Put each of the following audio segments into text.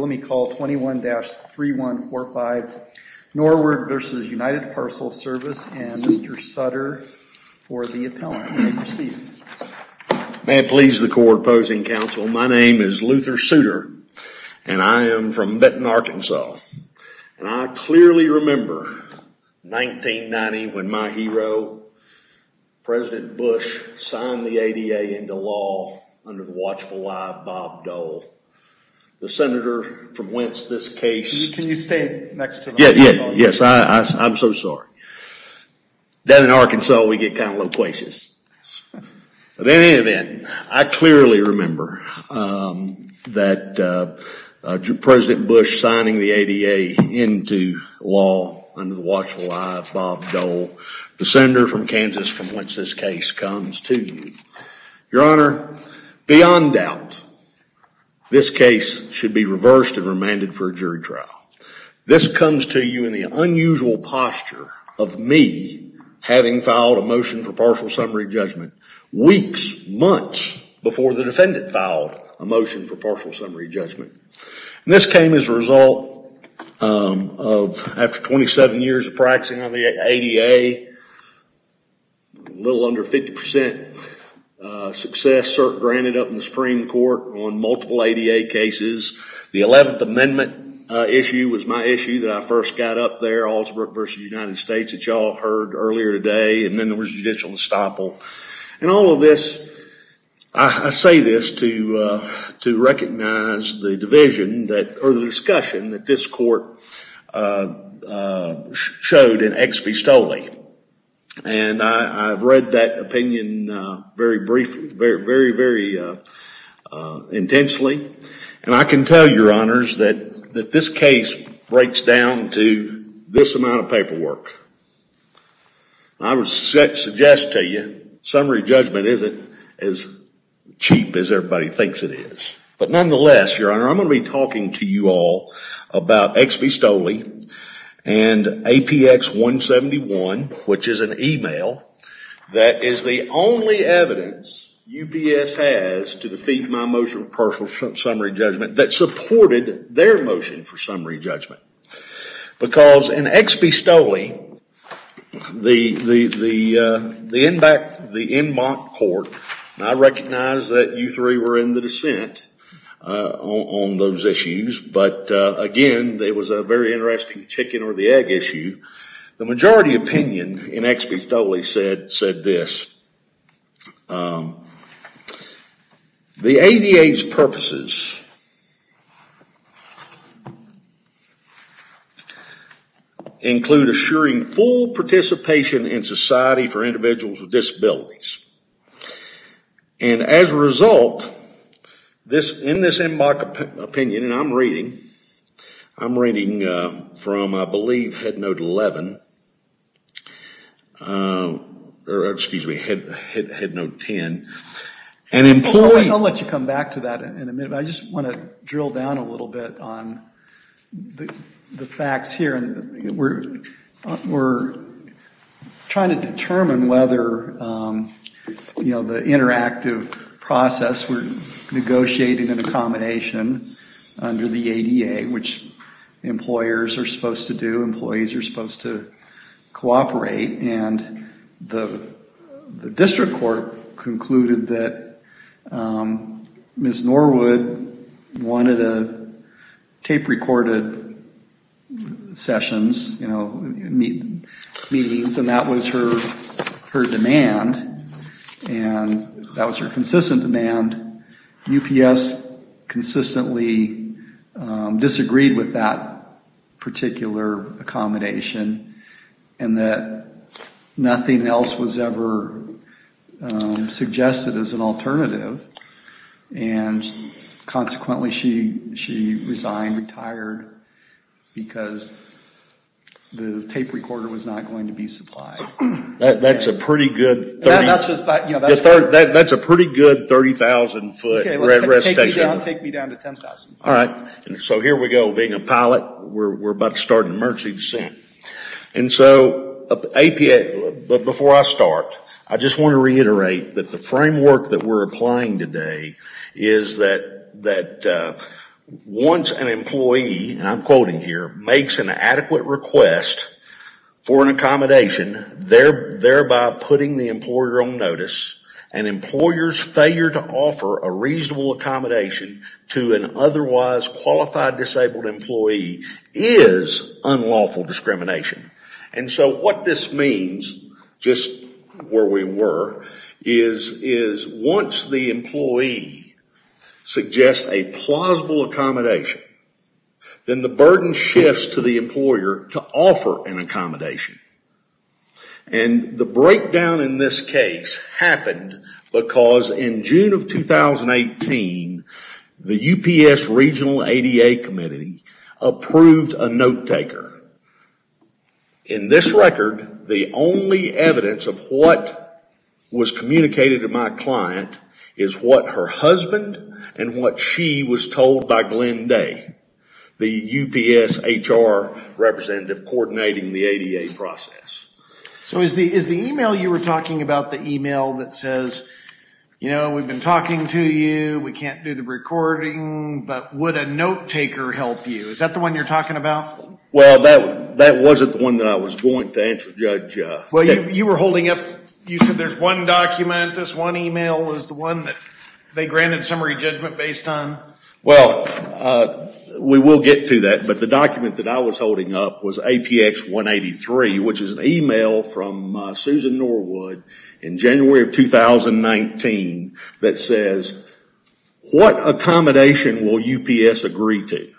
Let me call 21-3145 Norwood v. United Parcel Service and Mr. Sutter for the appellant. May it please the court opposing counsel, my name is Luther Souter and I am from Benton, Arkansas. And I clearly remember 1990 when my hero, President Bush, signed the ADA into law under the watchful eye of Bob Dole. The senator from whence this case... Can you stand next to the... Yes, I'm so sorry. Down in Arkansas we get kind of loquacious. In any event, I clearly remember that President Bush signing the ADA into law under the watchful eye of Bob Dole. The senator from Kansas from whence this case comes to you. Your Honor, beyond doubt, this case should be reversed and remanded for a jury trial. This comes to you in the unusual posture of me having filed a motion for partial summary judgment weeks, months before the defendant filed a motion for partial summary judgment. This came as a result of, after 27 years of practicing on the ADA, a little under 50% success granted up in the Supreme Court on multiple ADA cases. The 11th Amendment issue was my issue that I first got up there, Augsburg v. United States, that you all heard earlier today, and then there was judicial estoppel. In all of this, I say this to recognize the discussion that this court showed in Ex Pistole. I've read that opinion very briefly, very, very intensely. I can tell you, Your Honors, that this case breaks down to this amount of paperwork. I would suggest to you, summary judgment isn't as cheap as everybody thinks it is. Nonetheless, Your Honor, I'm going to be talking to you all about Ex Pistole and APX 171, which is an email that is the only evidence UPS has to defeat my motion for partial summary judgment that supported their motion for summary judgment. Because in Ex Pistole, the Enmont court, and I recognize that you three were in the dissent on those issues, but again, it was a very interesting chicken or the egg issue. The majority opinion in Ex Pistole said this. The ADA's purposes include assuring full participation in society for individuals with disabilities. And as a result, in this Enmont opinion, and I'm reading from, I believe, Head Note 11, or excuse me, Head Note 10, an employee- I'll let you come back to that in a minute. I just want to drill down a little bit on the facts here. We're trying to determine whether the interactive process, we're negotiating an accommodation under the ADA, which employers are supposed to do, employees are supposed to cooperate, and the district court concluded that Ms. Norwood wanted a tape-recorded sessions, meetings, and that was her demand, and that was her consistent demand. UPS consistently disagreed with that particular accommodation, and that nothing else was ever suggested as an alternative, and consequently she resigned, retired, because the tape recorder was not going to be supplied. That's a pretty good 30,000 foot red rest station. Take me down to 10,000. All right, so here we go. Being a pilot, we're about to start an emergency descent. And so, before I start, I just want to reiterate that the framework that we're applying today is that once an employee, and I'm quoting here, makes an adequate request for an accommodation, thereby putting the employer on notice, an employer's failure to offer a reasonable accommodation to an otherwise qualified disabled employee is unlawful discrimination. And so what this means, just where we were, is once the employee suggests a plausible accommodation, then the burden shifts to the employer to offer an accommodation. And the breakdown in this case happened because in June of 2018, the UPS regional ADA committee approved a note taker. In this record, the only evidence of what was communicated to my client is what her husband and what she was told by Glenn Day, the UPS HR representative coordinating the ADA process. So is the email you were talking about the email that says, you know, we've been talking to you, we can't do the recording, but would a note taker help you? Is that the one you're talking about? Well, that wasn't the one that I was going to answer, Judge. Well, you were holding up, you said there's one document, this one email is the one that they granted summary judgment based on. Well, we will get to that. But the document that I was holding up was APX 183, which is an email from Susan Norwood in January of 2019 that says, what accommodation will UPS agree to?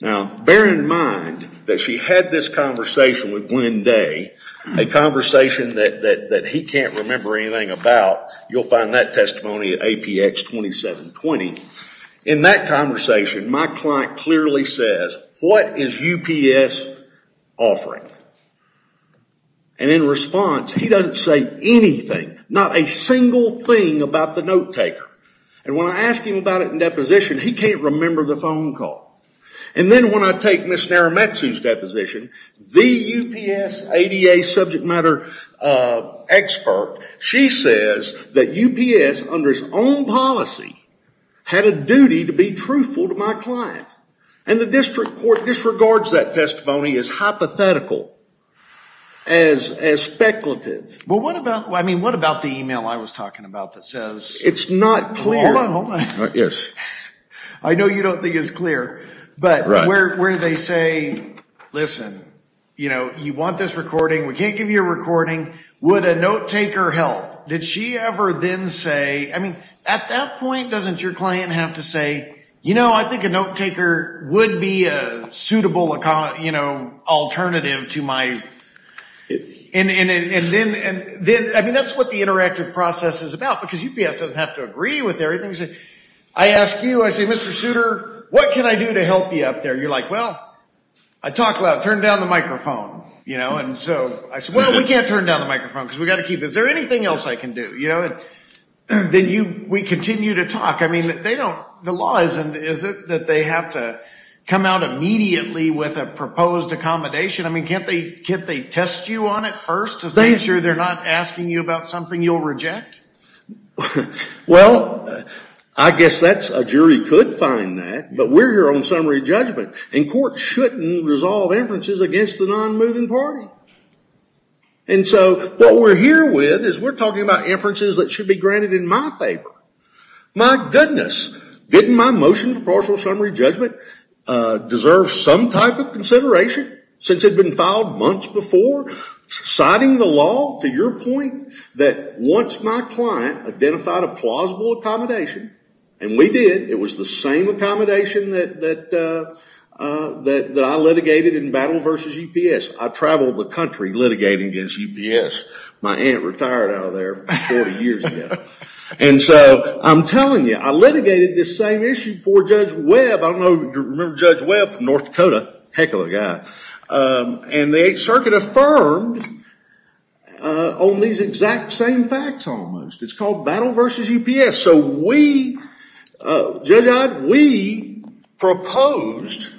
Now, bear in mind that she had this conversation with Glenn Day, a conversation that he can't remember anything about. You'll find that testimony at APX 2720. In that conversation, my client clearly says, what is UPS offering? And in response, he doesn't say anything, not a single thing about the note taker. And when I ask him about it in deposition, he can't remember the phone call. And then when I take Ms. Narumetsu's deposition, the UPS ADA subject matter expert, she says that UPS, under its own policy, had a duty to be truthful to my client. And the district court disregards that testimony as hypothetical, as speculative. Well, what about the email I was talking about that says? It's not clear. Hold on, hold on. Yes. I know you don't think it's clear. We can't give you a recording. Would a note taker help? Did she ever then say? I mean, at that point, doesn't your client have to say, you know, I think a note taker would be a suitable alternative to my? And then, I mean, that's what the interactive process is about, because UPS doesn't have to agree with everything. I ask you, I say, Mr. Souter, what can I do to help you up there? You're like, well, I talk loud. Turn down the microphone. You know? And so I say, well, we can't turn down the microphone, because we've got to keep it. Is there anything else I can do? You know? And then we continue to talk. I mean, they don't, the law isn't, is it that they have to come out immediately with a proposed accommodation? I mean, can't they test you on it first, to make sure they're not asking you about something you'll reject? Well, I guess that's, a jury could find that. But we're here on summary judgment. And courts shouldn't resolve inferences against the non-moving party. And so what we're here with is we're talking about inferences that should be granted in my favor. My goodness, didn't my motion for partial summary judgment deserve some type of consideration, since it had been filed months before? Citing the law, to your point, that once my client identified a plausible accommodation, and we did, it was the same accommodation that I litigated in Battle vs. UPS. I traveled the country litigating against UPS. My aunt retired out of there 40 years ago. And so I'm telling you, I litigated this same issue before Judge Webb. I don't know if you remember Judge Webb from North Dakota. Heck of a guy. And the Eighth Circuit affirmed on these exact same facts, almost. It's called Battle vs. UPS. So we, Judge Odd, we proposed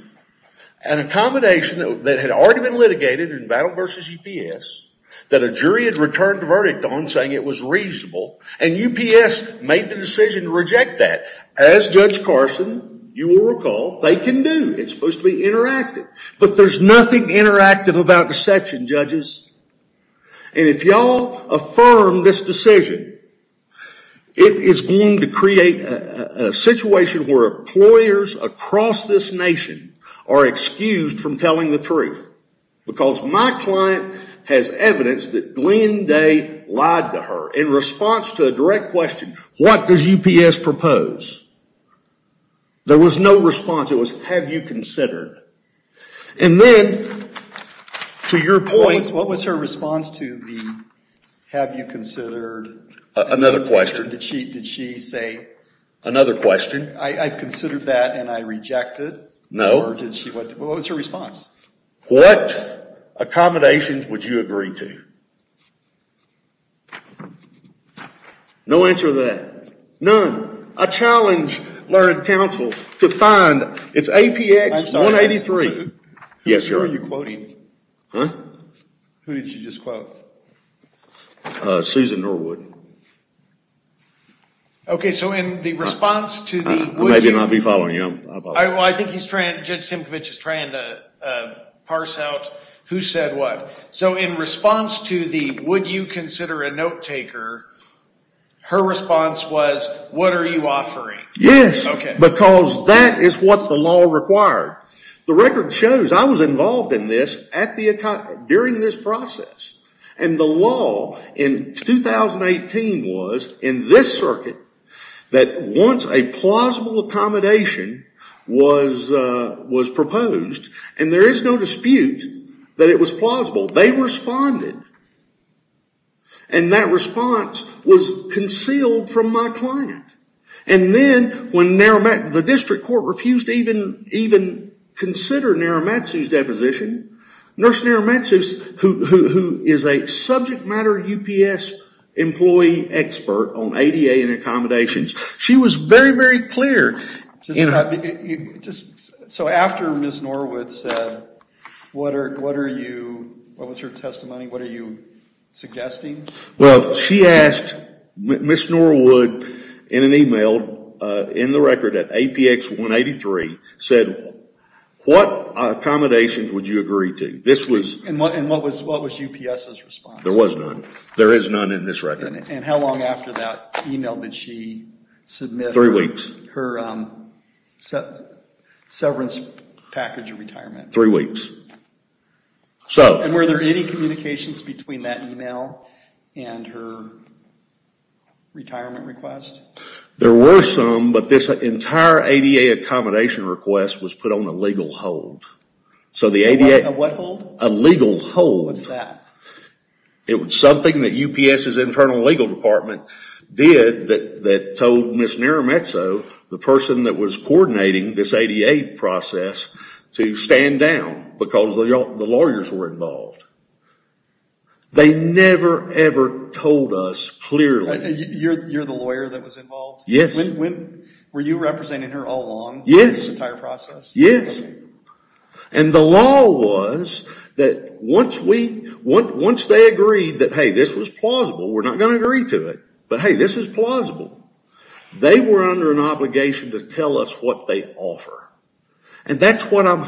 an accommodation that had already been litigated in Battle vs. UPS, that a jury had returned a verdict on saying it was reasonable. And UPS made the decision to reject that. As Judge Carson, you will recall, they can do. It's supposed to be interactive. But there's nothing interactive about deception, judges. And if y'all affirm this decision, it is going to create a situation where employers across this nation are excused from telling the truth. Because my client has evidence that Glenn Day lied to her in response to a direct question, what does UPS propose? There was no response. It was, have you considered? And then, to your point. What was her response to the, have you considered? Another question. Did she say? Another question. I considered that and I rejected. No. What was her response? What accommodations would you agree to? No answer to that. None. I challenge Learned Counsel to find, it's APX 183. Yes, Your Honor. Who are you quoting? Huh? Who did you just quote? Susan Norwood. Okay, so in the response to the, would you? I may not be following you. I think Judge Timkovich is trying to parse out who said what. So in response to the, would you consider a note taker, her response was, what are you offering? Yes, because that is what the law required. The record shows, I was involved in this during this process. And the law in 2018 was, in this circuit, that once a plausible accommodation was proposed, and there is no dispute that it was plausible, they responded. And that response was concealed from my client. And then when the district court refused to even consider Naramatsu's deposition, Nurse Naramatsu, who is a subject matter UPS employee expert on ADA and accommodations, she was very, very clear. So after Ms. Norwood said, what are you, what was her testimony, what are you suggesting? Well, she asked Ms. Norwood in an email, in the record at APX 183, said, what accommodations would you agree to? And what was UPS's response? There was none. There is none in this record. And how long after that email did she submit? Three weeks. Her severance package of retirement. Three weeks. And were there any communications between that email and her retirement request? There were some, but this entire ADA accommodation request was put on a legal hold. A what hold? A legal hold. What's that? It was something that UPS's internal legal department did that told Ms. Naramatsu, the person that was coordinating this ADA process, to stand down because the lawyers were involved. They never, ever told us clearly. You're the lawyer that was involved? Yes. Were you representing her all along? Yes. The entire process? Yes. And the law was that once they agreed that, hey, this was plausible, we're not going to agree to it. But hey, this is plausible. They were under an obligation to tell us what they offer. And that's what I'm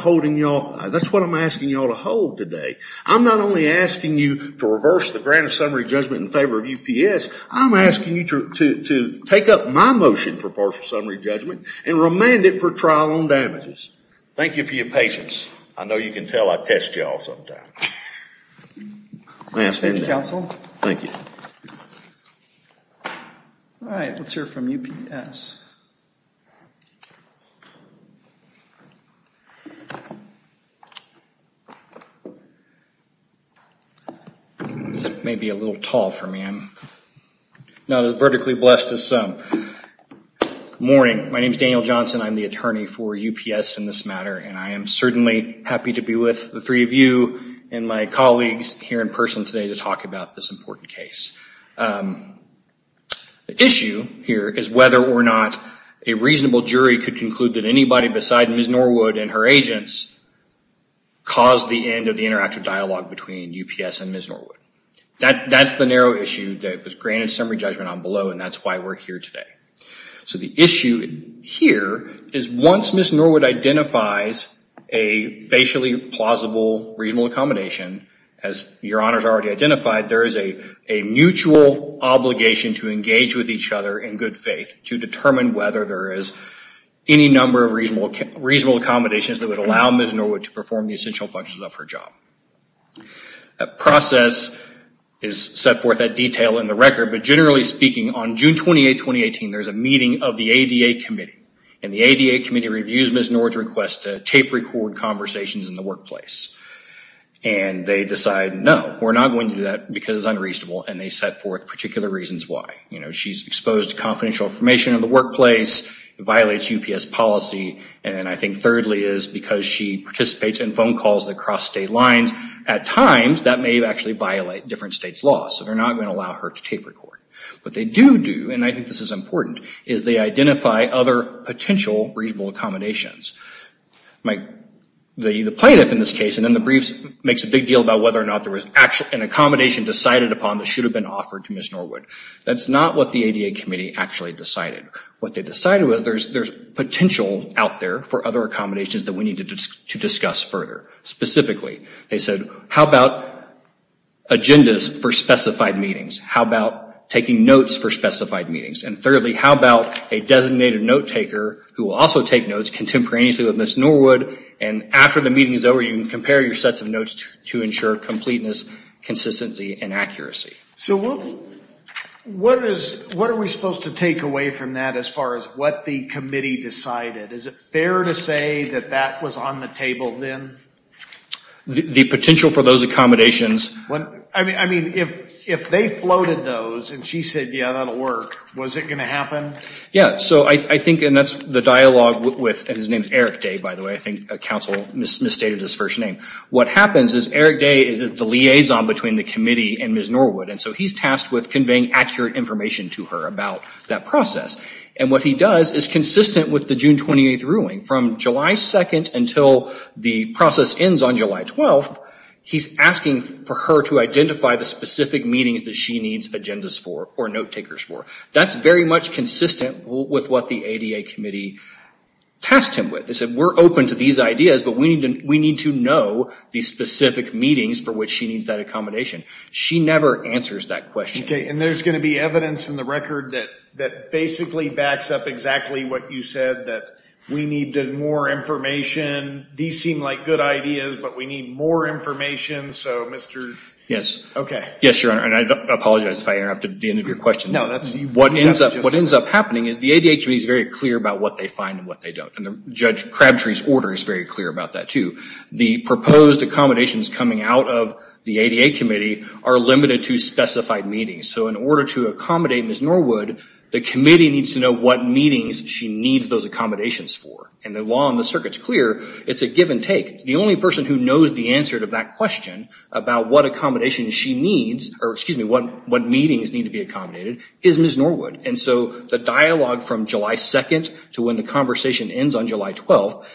asking you all to hold today. I'm not only asking you to reverse the grant of summary judgment in favor of UPS. I'm asking you to take up my motion for partial summary judgment and remand it for trial on damages. Thank you for your patience. I know you can tell I test you all sometimes. May I stand down? Thank you, counsel. All right. Let's hear from UPS. This may be a little tall for me. I'm not as vertically blessed as some. Good morning. My name's Daniel Johnson. I'm the attorney for UPS in this matter. And I am certainly happy to be with the three of you and my colleagues here in person today to talk about this important case. The issue here is whether or not a reasonable jury could conclude that anybody beside Ms. Norwood and her agents caused the end of the interactive dialogue between UPS and Ms. Norwood. That's the narrow issue that was granted summary judgment on below, and that's why we're here today. So the issue here is once Ms. Norwood identifies a facially plausible reasonable accommodation, as your honors already identified, there is a mutual obligation to engage with each other in good faith to determine whether there is any number of reasonable accommodations that would allow Ms. Norwood to perform the essential functions of her job. That process is set forth at detail in the record, but generally speaking, on June 28, 2018, there's a meeting of the ADA committee. And the ADA committee reviews Ms. Norwood's request to tape record conversations in the workplace. And they decide, no, we're not going to do that because it's unreasonable, and they set forth particular reasons why. You know, she's exposed to confidential information in the workplace, it violates UPS policy, and then I think thirdly is because she participates in phone calls that cross state lines, at times that may actually violate different states' laws, so they're not going to allow her to tape record. What they do do, and I think this is important, is they identify other potential reasonable accommodations. The plaintiff in this case, and then the briefs, makes a big deal about whether or not there was an accommodation decided upon that should have been offered to Ms. Norwood. That's not what the ADA committee actually decided. What they decided was there's potential out there for other accommodations that we need to discuss further. Specifically, they said, how about agendas for specified meetings, how about taking notes for specified meetings, and thirdly, how about a designated note taker who will also take notes contemporaneously with Ms. Norwood, and after the meeting is over, you can compare your sets of notes to ensure completeness, consistency, and accuracy. So what are we supposed to take away from that as far as what the committee decided? Is it fair to say that that was on the table then? The potential for those accommodations... I mean, if they floated those, and she said, yeah, that'll work, was it going to happen? Yeah, so I think, and that's the dialogue with, and his name is Eric Day, by the way, I think counsel misstated his first name. What happens is Eric Day is the liaison between the committee and Ms. Norwood, and so he's tasked with conveying accurate information to her about that process, and what he does is consistent with the June 28th ruling. From July 2nd until the process ends on July 12th, he's asking for her to identify the specific meetings that she needs agendas for or note takers for. That's very much consistent with what the ADA committee tasked him with. They said, we're open to these ideas, but we need to know the specific meetings for which she needs that accommodation. She never answers that question. Okay, and there's going to be evidence in the record that basically backs up exactly what you said, that we need more information. These seem like good ideas, but we need more information, so Mr.... Yes. Okay. Yes, Your Honor, and I apologize if I interrupted the end of your question. No, that's... What ends up happening is the ADA committee is very clear about what they find and what they don't, and Judge Crabtree's order is very clear about that, too. The proposed accommodations coming out of the ADA committee are limited to specified meetings, so in order to accommodate Ms. Norwood, the committee needs to know what meetings she needs those accommodations for, and the law on the circuit's clear. It's a give and take. The only person who knows the answer to that question about what accommodations she needs, or excuse me, what meetings need to be accommodated, is Ms. Norwood, and so the dialogue from July 2nd to when the conversation ends on July 12th,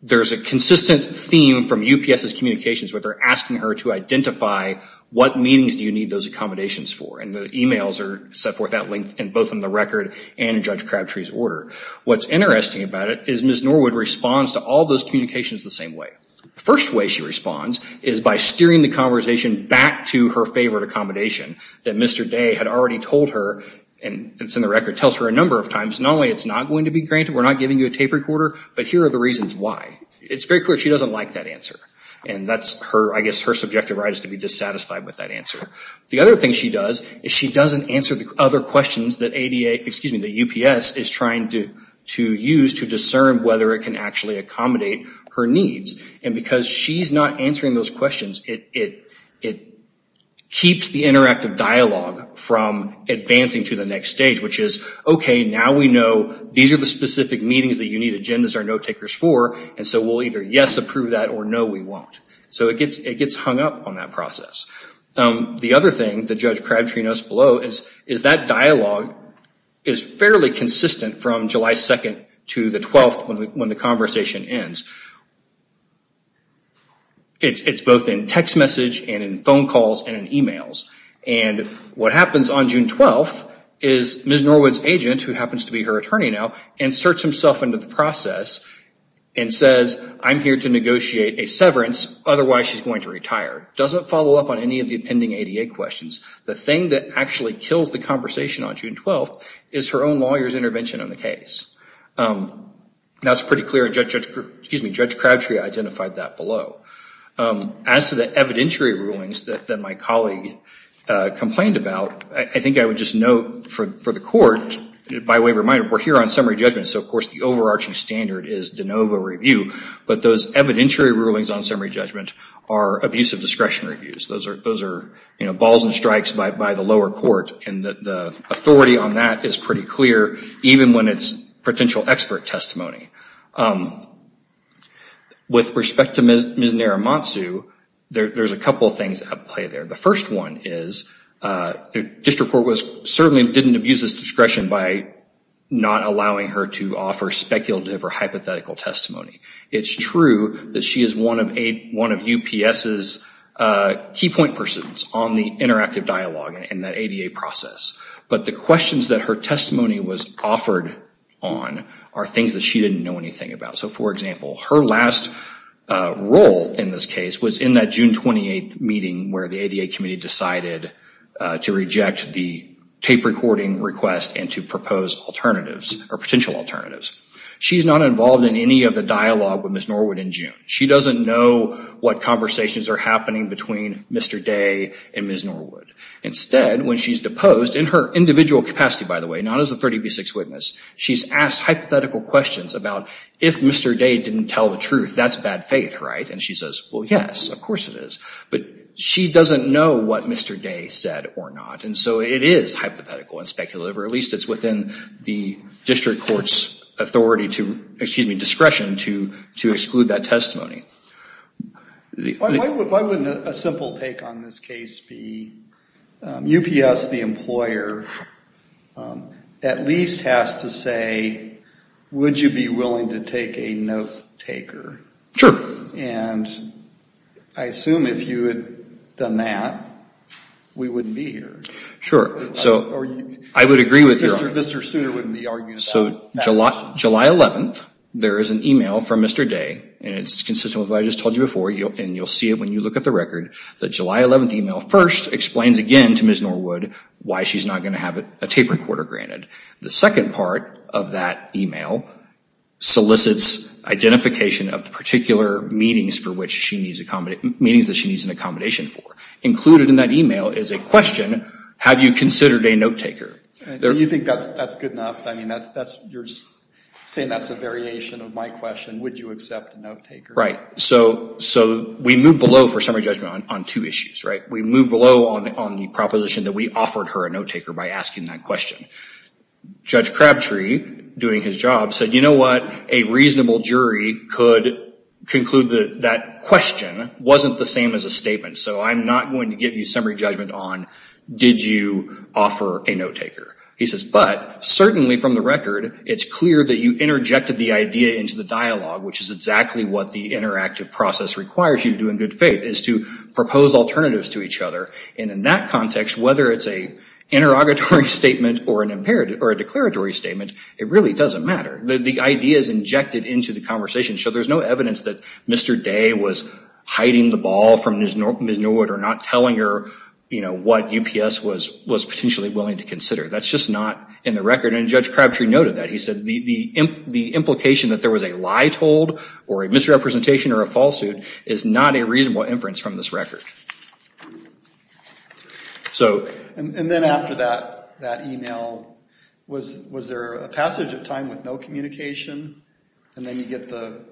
there's a consistent theme from UPS's communications where they're asking her to identify what meetings do you need those accommodations for, and the emails are set forth at length in both in the record and in Judge Crabtree's order. What's interesting about it is Ms. Norwood responds to all those communications the same way. The first way she responds is by steering the conversation back to her favorite accommodation that Mr. Day had already told her, and it's in the record, tells her a number of times, not only it's not going to be granted, we're not giving you a tape recorder, but here are the reasons why. It's very clear she doesn't like that answer, and that's, I guess, her subjective right is to be dissatisfied with that answer. The other thing she does is she doesn't answer the other questions that UPS is trying to use to discern whether it can actually accommodate her needs, and because she's not answering those questions, it keeps the interactive dialogue from advancing to the next stage, which is, okay, now we know these are the specific meetings that you need agendas or note-takers for, and so we'll either yes, approve that, or no, we won't. So it gets hung up on that process. The other thing that Judge Crabtree notes below is that dialogue is fairly consistent from July 2nd to the 12th when the conversation ends. It's both in text message and in phone calls and in emails, and what happens on June 12th is Ms. Norwood's agent, who happens to be her attorney now, inserts himself into the process and says, I'm here to negotiate a severance, otherwise she's going to retire. Doesn't follow up on any of the pending ADA questions. The thing that actually kills the conversation on June 12th is her own lawyer's intervention on the case. That's pretty clear, and Judge Crabtree identified that below. As to the evidentiary rulings that my colleague complained about, I think I would just note for the court, by way of reminder, we're here on summary judgment, so of course the overarching standard is de novo review, but those evidentiary rulings on summary judgment are abuse of discretion reviews. Those are balls and strikes by the lower court, and the authority on that is pretty clear, even when it's potential expert testimony. With respect to Ms. Naramatsu, there's a couple of things at play there. The first one is, District Court certainly didn't abuse this discretion by not allowing her to offer speculative or hypothetical testimony. It's true that she is one of UPS's key point persons on the interactive dialogue in that ADA process, but the questions that her testimony was offered on are things that she didn't know anything about. For example, her last role in this case was in that June 28th meeting where the ADA committee decided to reject the tape recording request and to propose alternatives, or potential alternatives. She's not involved in any of the dialogue with Ms. Norwood in June. She doesn't know what conversations are happening between Mr. Day and Ms. Norwood. Instead, when she's deposed, in her individual capacity, by the way, not as a 30b6 witness, she's asked hypothetical questions about if Mr. Day didn't tell the truth, that's bad faith, right? And she says, well, yes, of course it is. But she doesn't know what Mr. Day said or not, and so it is hypothetical and speculative, or at least it's within the District Court's authority to, excuse me, discretion to exclude that testimony. Why wouldn't a simple take on this case be UPS, the employer, at least has to say, would you be willing to take a note-taker? Sure. And I assume if you had done that, we wouldn't be here. Sure, so I would agree with your argument. Mr. Sooner wouldn't be arguing about that. So July 11th, there is an email from Mr. Day, and it's consistent with what I just told you before, and you'll see it when you look at the record. The July 11th email first explains again to Ms. Norwood why she's not going to have a tape recorder granted. The second part of that email solicits identification of the particular meetings for which she needs accommodation, meetings that she needs an accommodation for. Included in that email is a question, have you considered a note-taker? Do you think that's good enough? You're saying that's a variation of my question, would you accept a note-taker? Right, so we moved below for summary judgment on two issues, right? We moved below on the proposition that we offered her a note-taker by asking that question. Judge Crabtree, doing his job, said, you know what, a reasonable jury could conclude that that question wasn't the same as a statement, so I'm not going to give you summary judgment on did you offer a note-taker. He says, but certainly from the record, it's clear that you interjected the idea into the dialogue, which is exactly what the interactive process requires you to do in good faith, is to propose alternatives to each other, and in that context, whether it's an interrogatory statement or a declaratory statement, it really doesn't matter. The idea is injected into the conversation, so there's no evidence that Mr. Day was hiding the ball from Ms. Norwood or not telling her what UPS was potentially willing to consider. That's just not in the record, and Judge Crabtree noted that. He said the implication that there was a lie told or a misrepresentation or a falsehood is not a reasonable inference from this record. And then after that email, was there a passage of time with no communication, and then you get the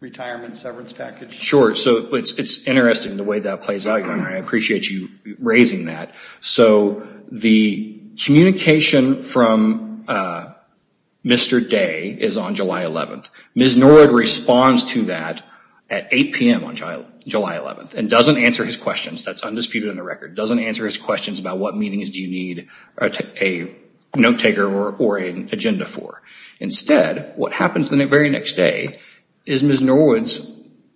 retirement severance package? Sure, so it's interesting the way that plays out, and I appreciate you raising that. So the communication from Mr. Day is on July 11th. Ms. Norwood responds to that at 8 p.m. on July 11th and doesn't answer his questions. That's undisputed in the record. Doesn't answer his questions about what meetings do you need a note-taker or an agenda for. Instead, what happens the very next day is Ms. Norwood's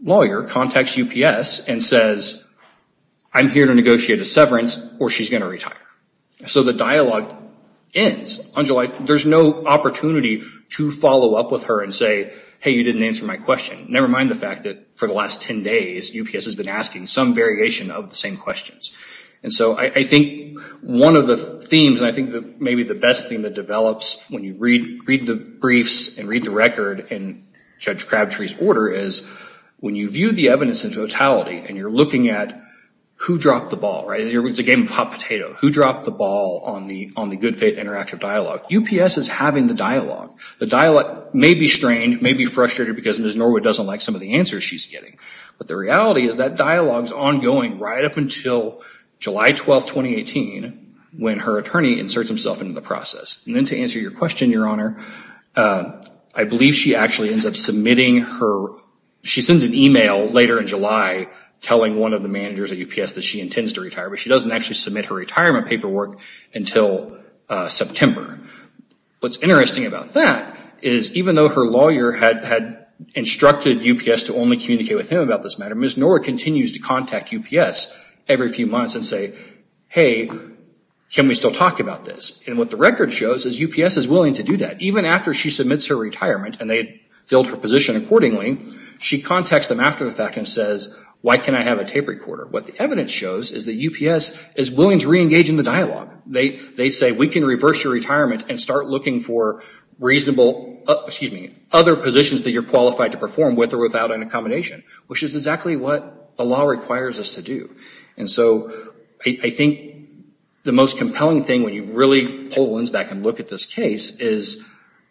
lawyer contacts UPS and says, I'm here to negotiate a severance or she's gonna retire. So the dialogue ends on July, there's no opportunity to follow up with her and say, hey, you didn't answer my question. Never mind the fact that for the last 10 days, UPS has been asking some variation of the same questions. And so I think one of the themes, and I think maybe the best thing that develops when you read the briefs and read the record in Judge Crabtree's order is when you view the evidence in totality and you're looking at who dropped the ball, right? It's a game of hot potato. Who dropped the ball on the good faith interactive dialogue? UPS is having the dialogue. The dialogue may be strained, may be frustrated because Ms. Norwood doesn't like some of the answers she's getting. But the reality is that dialogue's ongoing right up until July 12, 2018 when her attorney inserts himself into the process. And then to answer your question, Your Honor, I believe she actually ends up submitting her, she sends an email later in July telling one of the managers at UPS that she intends to retire, but she doesn't actually submit her retirement paperwork until September. What's interesting about that is even though her lawyer had instructed UPS to only communicate with him about this matter, Ms. Norwood continues to contact UPS every few months and say, hey, can we still talk about this? And what the record shows is UPS is willing to do that. Even after she submits her retirement and they filled her position accordingly, she contacts them after the fact and says, why can't I have a tape recorder? What the evidence shows is that UPS is willing to reengage in the dialogue. They say, we can reverse your retirement and start looking for reasonable, excuse me, other positions that you're qualified to perform with or without an accommodation, which is exactly what the law requires us to do. And so I think the most compelling thing when you really pull the lens back and look at this case is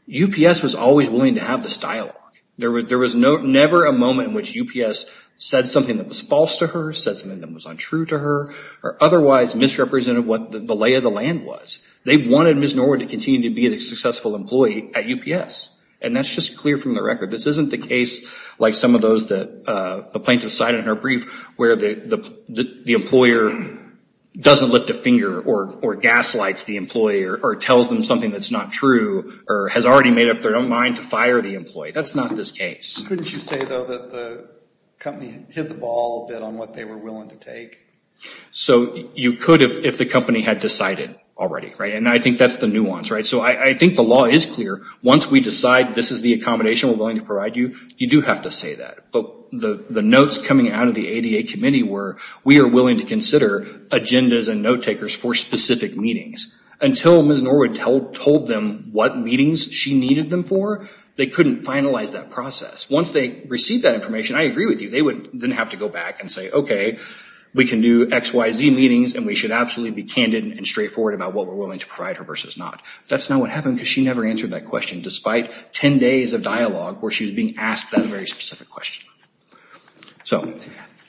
UPS was always willing to have this dialogue. There was never a moment in which UPS said something that was false to her, said something that was untrue to her, or otherwise misrepresented what the lay of the land was. They wanted Ms. Norwood to continue to be a successful employee at UPS. And that's just clear from the record. This isn't the case like some of those that the plaintiff cited in her brief where the employer doesn't lift a finger or gaslights the employer or tells them something that's not true or has already made up their own mind to fire the employee. That's not this case. Couldn't you say, though, that the company hit the ball a bit on what they were willing to take? So you could if the company had decided already, right? And I think that's the nuance, right? So I think the law is clear. Once we decide this is the accommodation we're willing to provide you, you do have to say that. But the notes coming out of the ADA committee were we are willing to consider agendas and note-takers for specific meetings. Until Ms. Norwood told them what meetings she needed them for, they couldn't finalize that process. Once they received that information, I agree with you, they would then have to go back and say, okay, we can do XYZ meetings and we should absolutely be candid and straightforward about what we're willing to provide her versus not. That's not what happened because she never answered that question despite 10 days of dialogue where she was being asked that very specific question. So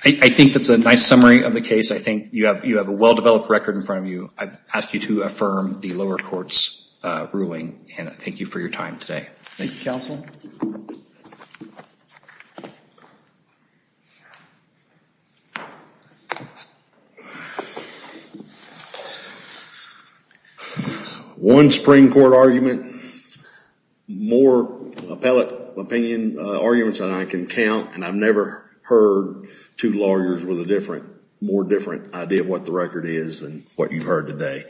I think that's a nice summary of the case. I think you have a well-developed record in front of you. I ask you to affirm the lower court's ruling. Hannah, thank you for your time today. Thank you, counsel. Thank you. One Supreme Court argument, more appellate opinion arguments than I can count, and I've never heard two lawyers with a different, more different idea of what the record is than what you've heard today.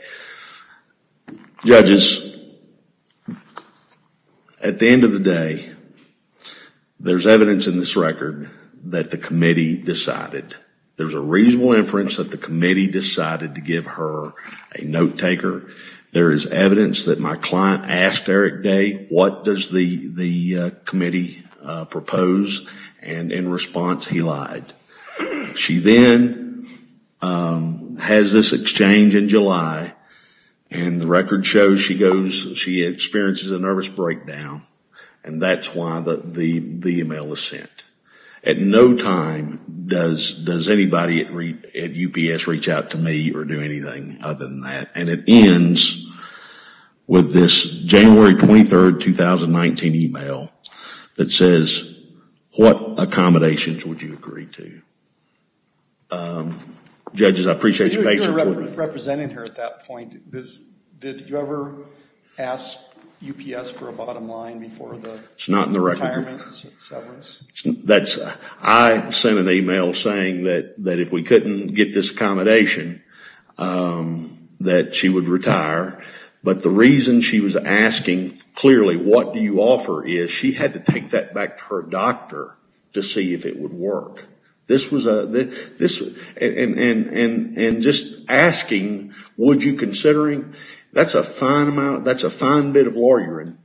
Judges, at the end of the day, there's evidence in this record that the committee decided. There's a reasonable inference that the committee decided to give her a note-taker. There is evidence that my client asked Eric Day, what does the committee propose? And in response, he lied. She then has this exchange in July and the record shows she goes, she experiences a nervous breakdown and that's why the email was sent. At no time does anybody at UPS reach out to me or do anything other than that. And it ends with this January 23, 2019 email that says, what accommodations would you agree to? Judges, I appreciate your patience with me. You're representing her at that point. Did you ever ask UPS for a bottom line before the retirement? It's not in the record. I sent an email saying that if we couldn't get this accommodation, that she would retire. But the reason she was asking, clearly, what do you offer, is she had to take that back to her doctor to see if it would work. And just asking, would you consider it? That's a fine bit of law you're in,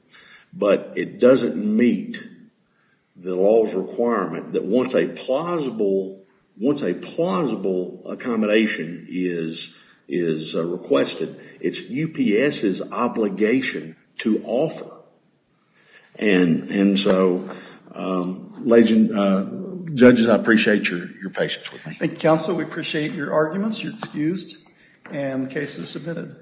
but it doesn't meet the law's requirement that once a plausible accommodation is requested, it's UPS's obligation to offer. And so, judges, I appreciate your patience with me. Thank you, counsel. We appreciate your arguments. You're excused, and the case is submitted.